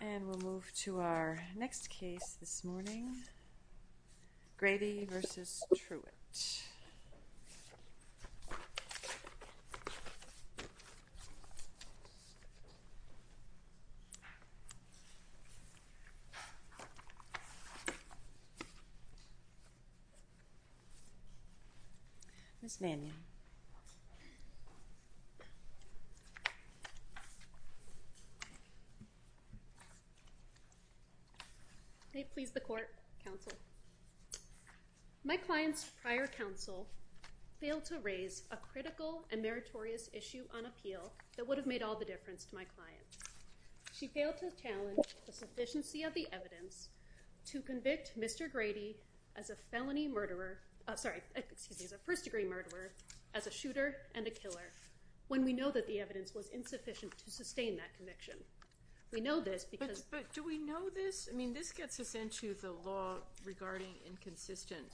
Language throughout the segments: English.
And we'll move to our next case this morning, Grady v. Truitt. Ms. Mannion. May it please the court, counsel. My client's prior counsel failed to raise a critical and meritorious issue on appeal that would have made all the difference to my client. She failed to challenge the sufficiency of the evidence to convict Mr. Grady as a first degree murderer, as a shooter and a killer, when we know that the evidence was insufficient to sustain that conviction. We know this because- But do we know this? I mean, this gets us into the law regarding inconsistent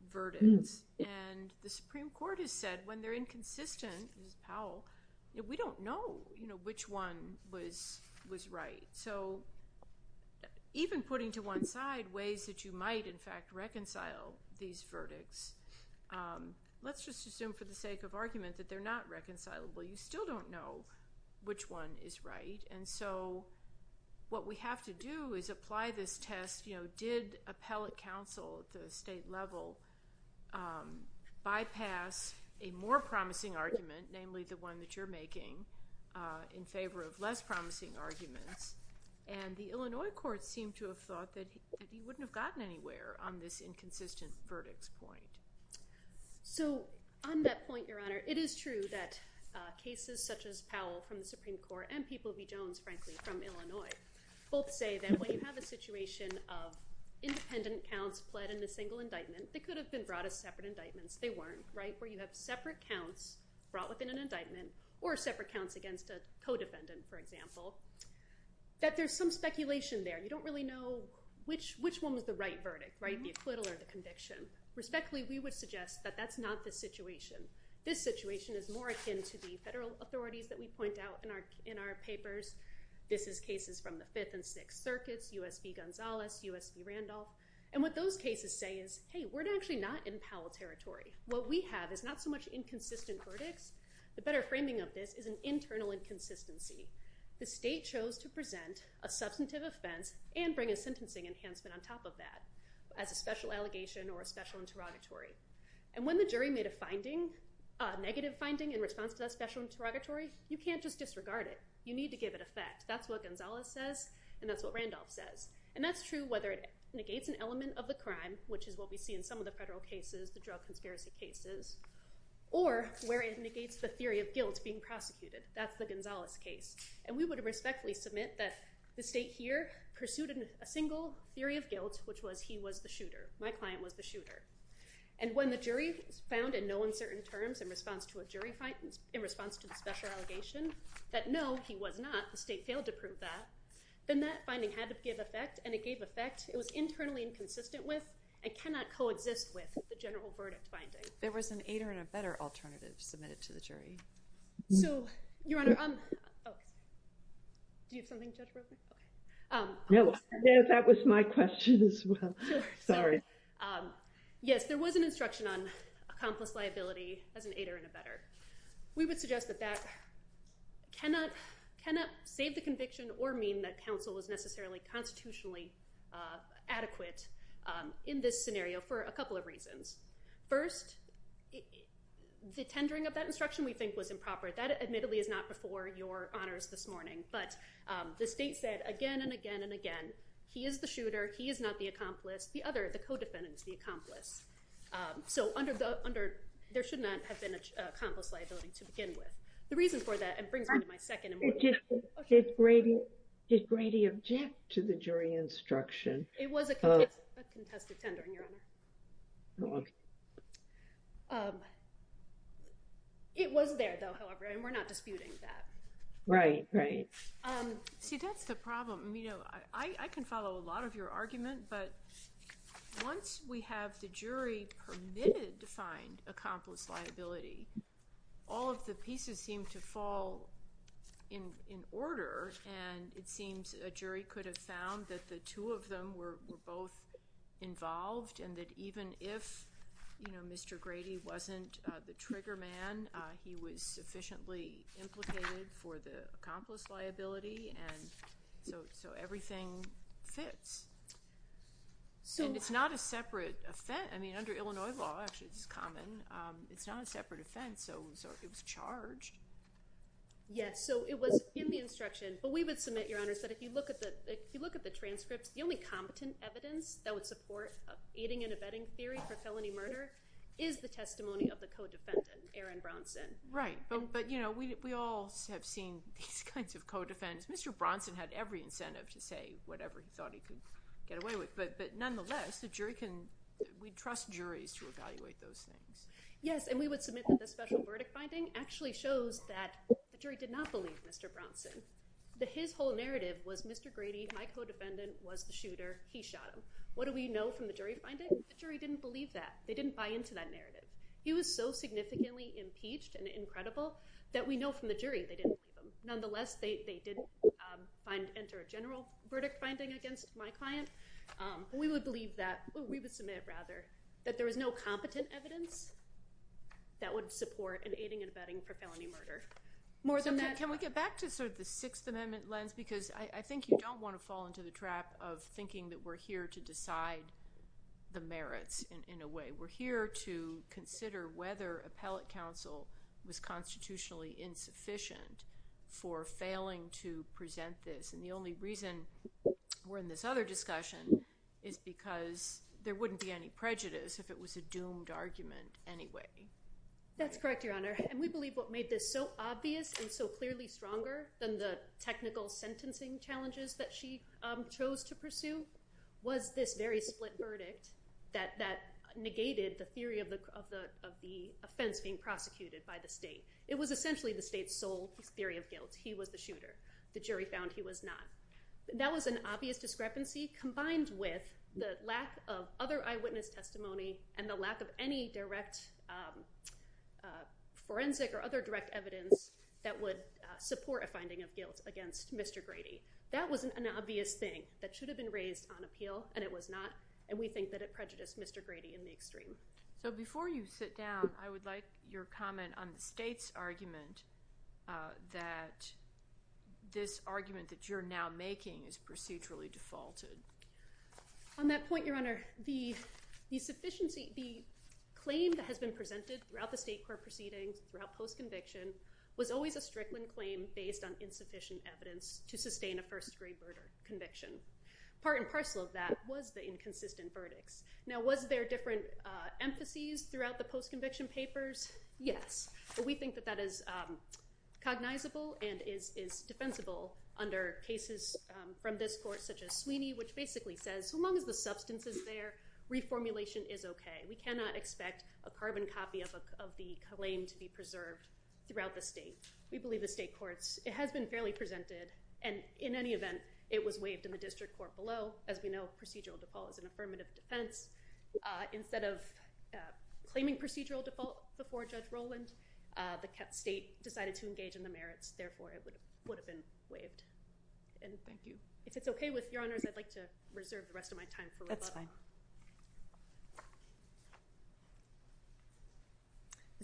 verdicts. And the Supreme Court has said when they're inconsistent, Ms. Powell, we don't know which one was right. So even putting to one side ways that you might, in fact, reconcile these verdicts, let's just assume for the sake of argument that they're not reconcilable. You still don't know which one is right. And so what we have to do is apply this test, you know, did appellate counsel at the state level bypass a more promising argument, namely the one that you're making, in favor of less promising arguments? And the Illinois courts seem to have thought that he wouldn't have gotten anywhere on this inconsistent verdicts point. So on that point, Your Honor, it is true that cases such as Powell from the Supreme Court and People v. Jones, frankly, from Illinois, both say that when you have a situation of independent counts pled in a single indictment, they could have been brought as separate indictments. They weren't, right? Where you have separate counts brought within an indictment or separate counts against a co-defendant, for example, that there's some speculation there. You don't really know which one was the right verdict, right? The acquittal or the conviction. Respectfully, we would suggest that that's not the situation. This situation is more akin to the federal authorities that we point out in our papers. This is cases from the Fifth and Sixth Circuits, U.S. v. Gonzalez, U.S. v. Randolph. And what those cases say is, hey, we're actually not in Powell territory. What we have is not so much inconsistent verdicts. The better framing of this is an internal inconsistency. The state chose to present a substantive offense and bring a sentencing enhancement on top of that as a special allegation or a special interrogatory. And when the jury made a finding, a negative finding in response to that special interrogatory, you can't just disregard it. You need to give it effect. That's what Gonzalez says, and that's what Randolph says. And that's true whether it negates an element of the crime, which is what we see in some of the federal cases, the drug conspiracy cases, or where it negates the theory of guilt being prosecuted. That's the Gonzalez case. And we would respectfully submit that the state here pursued a single theory of guilt, which was he was the shooter. My client was the shooter. And when the jury found in no uncertain terms in response to a jury finding, in response to the special allegation, that no, he was not, the state failed to prove that, then that finding had to give effect. And it gave effect. It was internally inconsistent with and cannot coexist with the general verdict finding. There was an aider and a better alternative submitted to the jury. So Your Honor, do you have something, Judge Brokman? No. That was my question as well. Sorry. Yes, there was an instruction on accomplice liability as an aider and a better. We would suggest that that cannot save the conviction or mean that counsel is necessarily constitutionally adequate in this scenario for a couple of reasons. First, the tendering of that instruction we think was improper. That admittedly is not before Your Honors this morning. But the state said again and again and again, he is the shooter. He is not the accomplice. The other, the co-defendant is the accomplice. So under, there should not have been an accomplice liability to begin with. The reason for that, and it brings me to my second and more important question. Did Grady object to the jury instruction? It was a contested tendering, Your Honor. It was there, though, however, and we're not disputing that. Right, right. See, that's the problem. You know, I can follow a lot of your argument, but once we have the jury permitted to find accomplice liability, all of the pieces seem to fall in order and it seems a jury could have found that the two of them were both involved and that even if, you know, Mr. Grady wasn't the trigger man, he was sufficiently implicated for the accomplice liability and so everything fits. And it's not a separate offense. I mean, under Illinois law, actually, it's common. It's not a separate offense, so it was charged. Yes, so it was in the instruction, but we would submit, Your Honors, that if you look at the transcripts, the only competent evidence that would support aiding and abetting theory for felony murder is the testimony of the co-defendant, Aaron Bronson. Right, but you know, we all have seen these kinds of co-defendants. Mr. Bronson had every incentive to say whatever he thought he could get away with, but nonetheless, the jury can, we trust juries to evaluate those things. Yes, and we would submit that the special verdict finding actually shows that the jury did not believe Mr. Bronson, that his whole narrative was Mr. Grady, my co-defendant was the shooter, he shot him. What do we know from the jury finding? The jury didn't believe that. They didn't buy into that narrative. He was so significantly impeached and incredible that we know from the jury they didn't believe him. Nonetheless, they didn't enter a general verdict finding against my client. We would believe that, we would submit, rather, that there was no competent evidence that would support an aiding and abetting for felony murder. So can we get back to sort of the Sixth Amendment lens? Because I think you don't want to fall into the trap of thinking that we're here to look at the merits in a way. We're here to consider whether appellate counsel was constitutionally insufficient for failing to present this. And the only reason we're in this other discussion is because there wouldn't be any prejudice if it was a doomed argument anyway. That's correct, Your Honor. And we believe what made this so obvious and so clearly stronger than the technical that negated the theory of the offense being prosecuted by the state. It was essentially the state's sole theory of guilt. He was the shooter. The jury found he was not. That was an obvious discrepancy combined with the lack of other eyewitness testimony and the lack of any direct forensic or other direct evidence that would support a finding of guilt against Mr. Grady. That was an obvious thing that should have been raised on appeal and it was not. And we think that it prejudiced Mr. Grady in the extreme. So before you sit down, I would like your comment on the state's argument that this argument that you're now making is procedurally defaulted. On that point, Your Honor, the claim that has been presented throughout the state court proceedings, throughout post-conviction, was always a Strickland claim based on insufficient evidence to sustain a first-degree murder conviction. Part and parcel of that was the inconsistent verdicts. Now was there different emphases throughout the post-conviction papers? Yes. But we think that that is cognizable and is defensible under cases from this court such as Sweeney, which basically says so long as the substance is there, reformulation is okay. We cannot expect a carbon copy of the claim to be preserved throughout the state. We believe the state courts, it has been fairly presented and in any event, it was waived in the district court below. As we know, procedural default is an affirmative defense. Instead of claiming procedural default before Judge Roland, the state decided to engage in the merits. Therefore, it would have been waived. Thank you. If it's okay with Your Honors, I'd like to reserve the rest of my time for rebuttal. That's fine.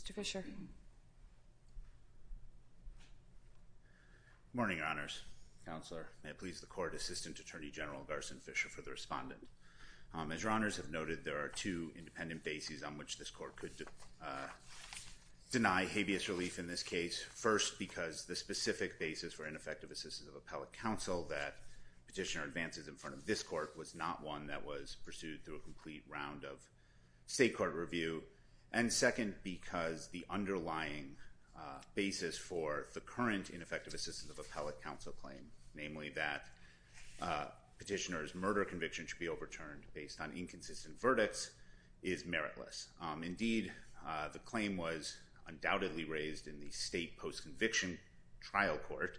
Mr. Fisher. Good morning, Your Honors. Counselor, may it please the court, Assistant Attorney General Garson Fisher for the respondent. As Your Honors have noted, there are two independent bases on which this court could deny habeas relief in this case. First, because the specific basis for ineffective assistance of appellate counsel that petitioner advances in front of this court was not one that was pursued through a complete round of state court review. And second, because the underlying basis for the current ineffective assistance of appellate counsel claim, namely that petitioner's murder conviction should be overturned based on inconsistent verdicts, is meritless. Indeed, the claim was undoubtedly raised in the state post-conviction trial court.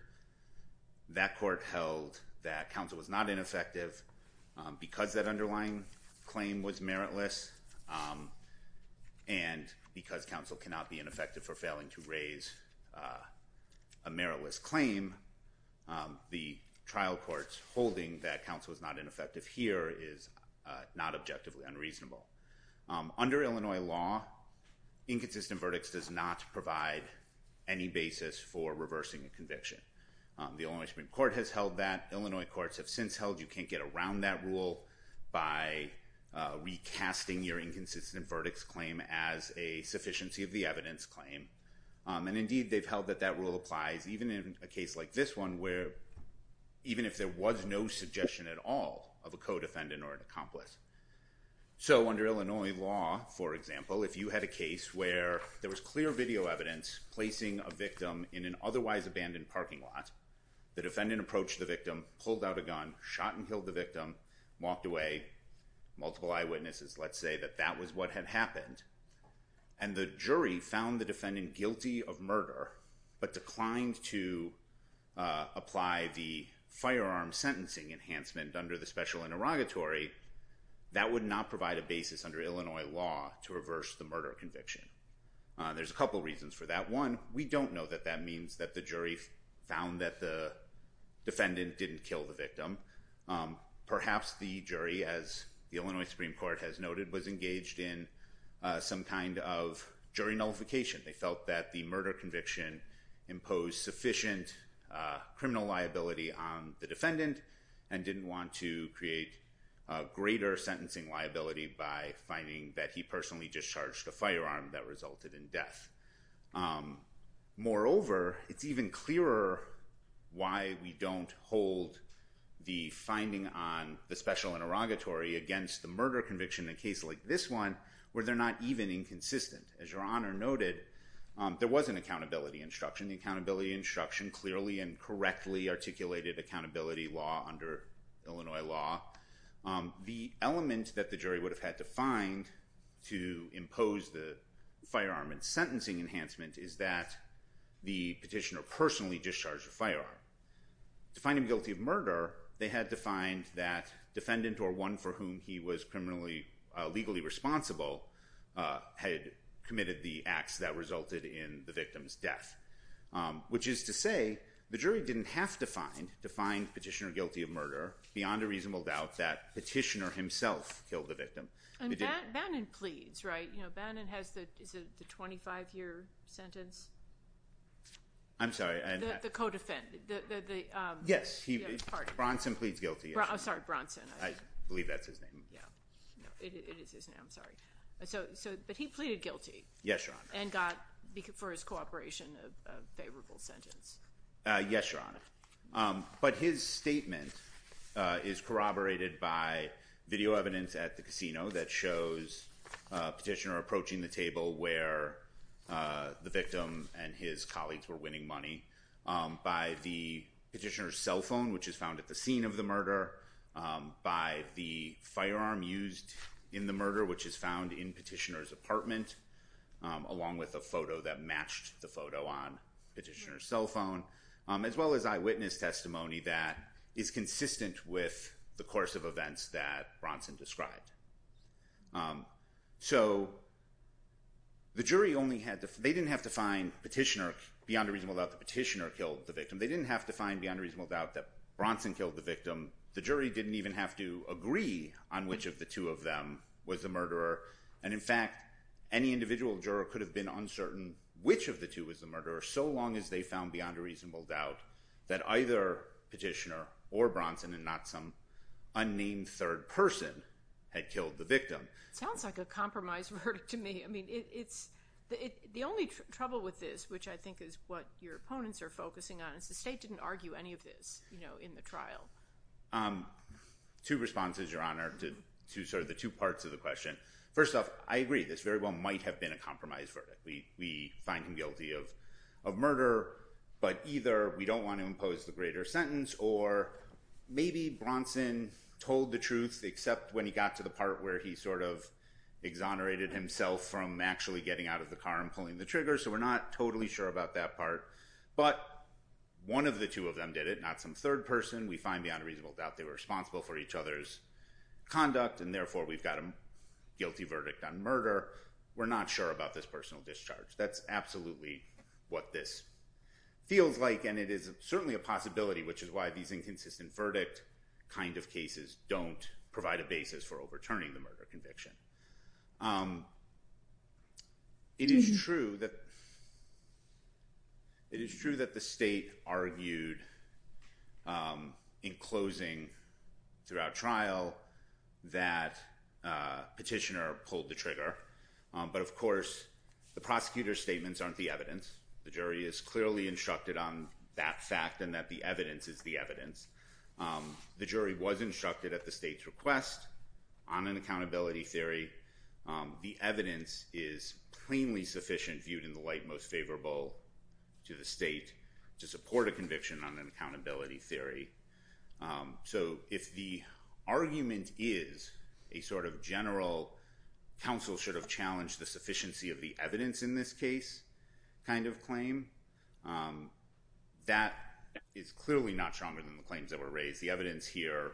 That court held that counsel was not ineffective because that underlying claim was meritless. And because counsel cannot be ineffective for failing to raise a meritless claim, the trial court's holding that counsel is not ineffective here is not objectively unreasonable. Under Illinois law, inconsistent verdicts does not provide any basis for reversing a conviction. The Illinois Supreme Court has held that. The Illinois courts have since held you can't get around that rule by recasting your inconsistent verdicts claim as a sufficiency of the evidence claim. And indeed, they've held that that rule applies even in a case like this one where even if there was no suggestion at all of a co-defendant or an accomplice. So, under Illinois law, for example, if you had a case where there was clear video evidence placing a victim in an otherwise abandoned parking lot, the defendant approached the victim, pulled out a gun, shot and killed the victim, walked away, multiple eyewitnesses, let's say that that was what had happened, and the jury found the defendant guilty of murder but declined to apply the firearm sentencing enhancement under the special interrogatory, that would not provide a basis under Illinois law to reverse the murder conviction. There's a couple reasons for that. One, we don't know that that means that the jury found that the defendant didn't kill the victim. Perhaps the jury, as the Illinois Supreme Court has noted, was engaged in some kind of jury nullification. They felt that the murder conviction imposed sufficient criminal liability on the defendant and didn't want to create greater sentencing liability by finding that he personally discharged a firearm that resulted in death. Moreover, it's even clearer why we don't hold the finding on the special interrogatory against the murder conviction in a case like this one where they're not even inconsistent. As Your Honor noted, there was an accountability instruction. The accountability instruction clearly and correctly articulated accountability law under Illinois law. The element that the jury would have had to find to impose the firearm and sentencing enhancement is that the petitioner personally discharged a firearm. To find him guilty of murder, they had to find that defendant or one for whom he was criminally, legally responsible, had committed the acts that resulted in the victim's death. Which is to say, the jury didn't have to find petitioner guilty of murder, beyond a reasonable doubt that petitioner himself killed the victim. And Bannon pleads, right? Bannon has the 25-year sentence? I'm sorry. The co-defendant. Yes, Bronson pleads guilty. I'm sorry, Bronson. I believe that's his name. It is his name, I'm sorry. But he pleaded guilty. Yes, Your Honor. And got, for his cooperation, a favorable sentence. Yes, Your Honor. But his statement is corroborated by video evidence at the casino that shows a petitioner approaching the table where the victim and his colleagues were winning money. By the petitioner's cell phone, which is found at the scene of the murder. By the firearm used in the murder, which is found in petitioner's apartment. Along with a photo that matched the photo on petitioner's cell phone. As well as eyewitness testimony that is consistent with the course of events that Bronson described. So, the jury only had to, they didn't have to find petitioner, beyond a reasonable doubt that petitioner killed the victim. They didn't have to find beyond a reasonable doubt that Bronson killed the victim. The jury didn't even have to agree on which of the two of them was the murderer. And in fact, any individual juror could have been uncertain which of the two was the murderer so long as they found beyond a reasonable doubt that either petitioner or Bronson and not some unnamed third person had killed the victim. Sounds like a compromise verdict to me. I mean, it's, the only trouble with this, which I think is what your opponents are focusing on, is the state didn't argue any of this, you know, in the trial. Two responses, Your Honor, to sort of the two parts of the question. First off, I agree, this very well might have been a compromise verdict. We find him guilty of murder, but either we don't want to impose the greater sentence or maybe Bronson told the truth except when he got to the part where he sort of exonerated himself from actually getting out of the car and pulling the trigger. So, we're not totally sure about that part. But one of the two of them did it, not some third person. We find beyond a reasonable doubt they were responsible for each other's conduct and therefore we've got a guilty verdict on murder. We're not sure about this personal discharge. That's absolutely what this feels like and it is certainly a possibility, which is why these inconsistent verdict kind of cases don't provide a basis for overturning the murder conviction. It is true that, it is true that the state argued in closing throughout trial that Petitioner pulled the trigger. But of course, the prosecutor's statements aren't the evidence. The jury is clearly instructed on that fact and that the evidence is the evidence. The jury was instructed at the state's request on an accountability theory. The evidence is plainly sufficient viewed in the light most favorable to the state to support a conviction on an accountability theory. So, if the argument is a sort of general counsel should have challenged the sufficiency of the evidence in this case kind of claim, that is clearly not stronger than the claims that were raised. The evidence here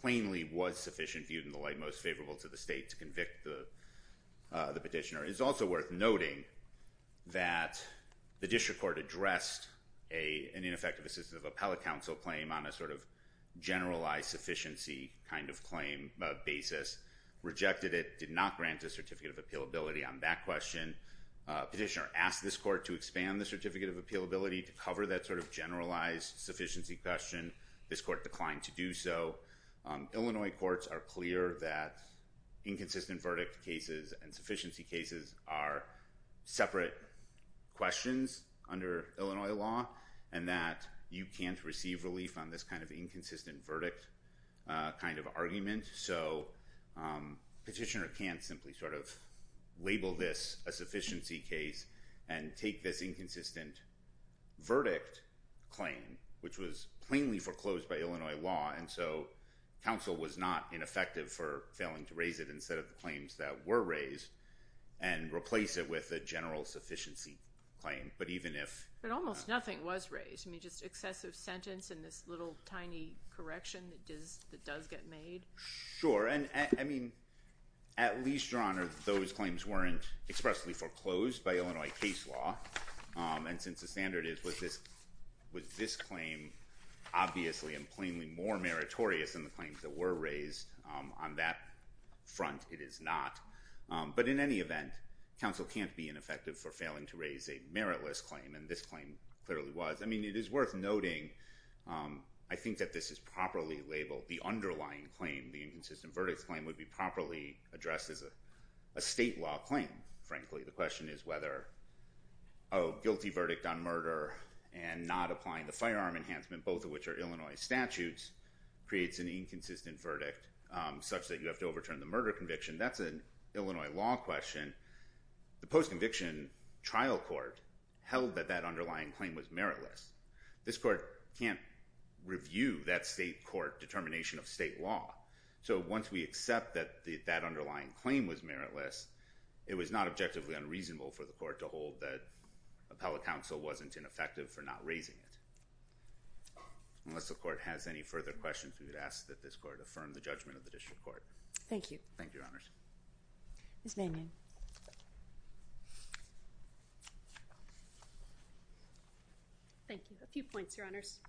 plainly was sufficient viewed in the light most favorable to the state to convict the Petitioner. It is also worth noting that the district court addressed an ineffective assistive appellate counsel claim on a sort of generalized sufficiency kind of claim basis. Rejected it. Did not grant a certificate of appealability on that question. Petitioner asked this court to expand the certificate of appealability to cover that sort of generalized sufficiency question. This court declined to do so. Illinois courts are clear that inconsistent verdict cases and sufficiency cases are separate questions under Illinois law and that you can't receive relief on this kind of inconsistent verdict kind of argument. So, Petitioner can't simply sort of label this a sufficiency case and take this inconsistent verdict claim which was plainly foreclosed by Illinois law and so counsel was not ineffective for failing to raise it on the claims that were raised and replace it with a general sufficiency claim. But even if... But almost nothing was raised. I mean, just excessive sentence and this little tiny correction that does get made. Sure. I mean, at least, Your Honor, those claims weren't expressly foreclosed by Illinois case law and since the standard is with this claim obviously and plainly more meritorious than the claims that were raised on that front, it is not. But in any event, counsel can't be ineffective for failing to raise a meritless claim and this claim clearly was. I mean, it is worth noting, I think that this is properly labeled. The underlying claim, the inconsistent verdict claim, would be properly addressed as a state law claim, frankly. The question is whether a guilty verdict on murder and not applying the firearm enhancement, both of which are Illinois statutes, creates an inconsistent verdict such that you have to overturn the murder conviction. That's an Illinois law question. The post-conviction trial court held that that underlying claim was meritless. This court can't review that state court determination of state law. So once we accept that that underlying claim was meritless, it was not objectively unreasonable for the court to hold that appellate counsel wasn't ineffective for not raising it. Unless the court has any further questions, we would ask that this court affirm the judgment of the district court. Thank you. Thank you, Your Honors. Ms. Manion. Thank you. A few points, Your Honors.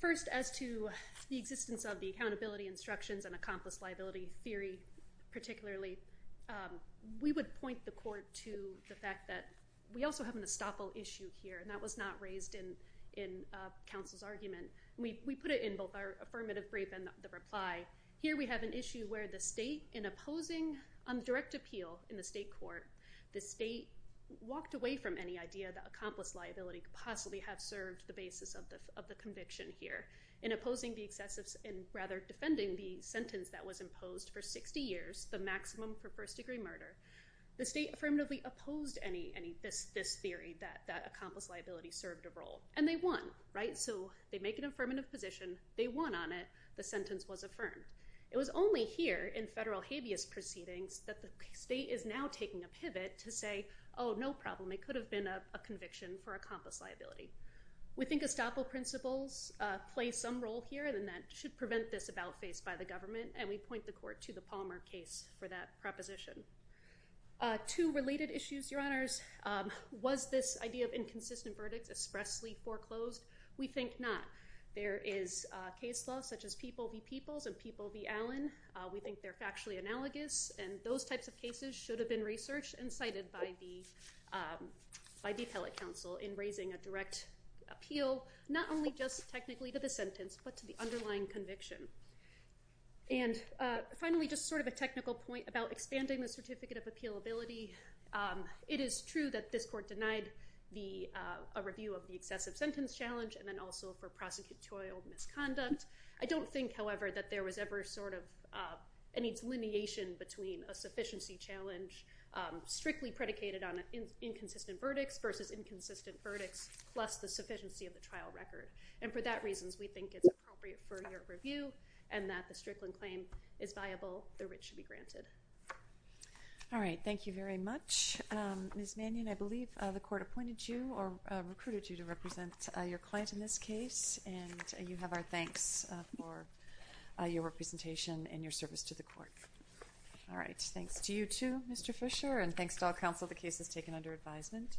First, as to the existence of the accountability instructions and accomplice liability theory particularly, we would point the court to the fact that we also have an estoppel issue here and that was not raised in counsel's argument. We put it in both our affirmative brief and the reply. Here we have an issue where the state, in opposing on direct appeal in the state court, the state walked away from any idea that accomplice liability could possibly have served the basis of the conviction here. In opposing the excessive and rather defending the sentence that was imposed for 60 years, the maximum for first-degree murder, the state affirmatively opposed this theory that accomplice liability served a role. And they won, right? So they make an affirmative position. They won on it. The sentence was affirmed. It was only here in federal habeas proceedings that the state is now taking a pivot to say, oh, no problem. It could have been a conviction for accomplice liability. We think estoppel principles play some role here and that should prevent this about face by the government. And we point the court to the Palmer case for that proposition. Two related issues, Your Honors. Was this idea of inconsistent verdicts expressly foreclosed? We think not. There is case law such as people v. peoples and people v. Allen. We think they're factually analogous. And those types of cases should have been researched and cited by the appellate counsel in raising a direct appeal, not only just technically to the sentence, but to the underlying conviction. And finally, just sort of a technical point about expanding the certificate of appealability. It is true that this court denied a review of the excessive sentence challenge and then also for prosecutorial misconduct. I don't think, however, that there was ever sort of any delineation between a sufficiency challenge strictly predicated on inconsistent verdicts versus inconsistent verdicts plus the sufficiency of the trial record. And for that reason, we think it's appropriate for your review and that the Strickland claim is viable. The writ should be granted. All right. Thank you very much. Ms. Mannion, I believe the court appointed you or recruited you to represent your client in this case, and you have our thanks for your representation and your service to the court. All right. Thanks to you, too, Mr. Fisher, and thanks to all counsel the case has taken under advisement.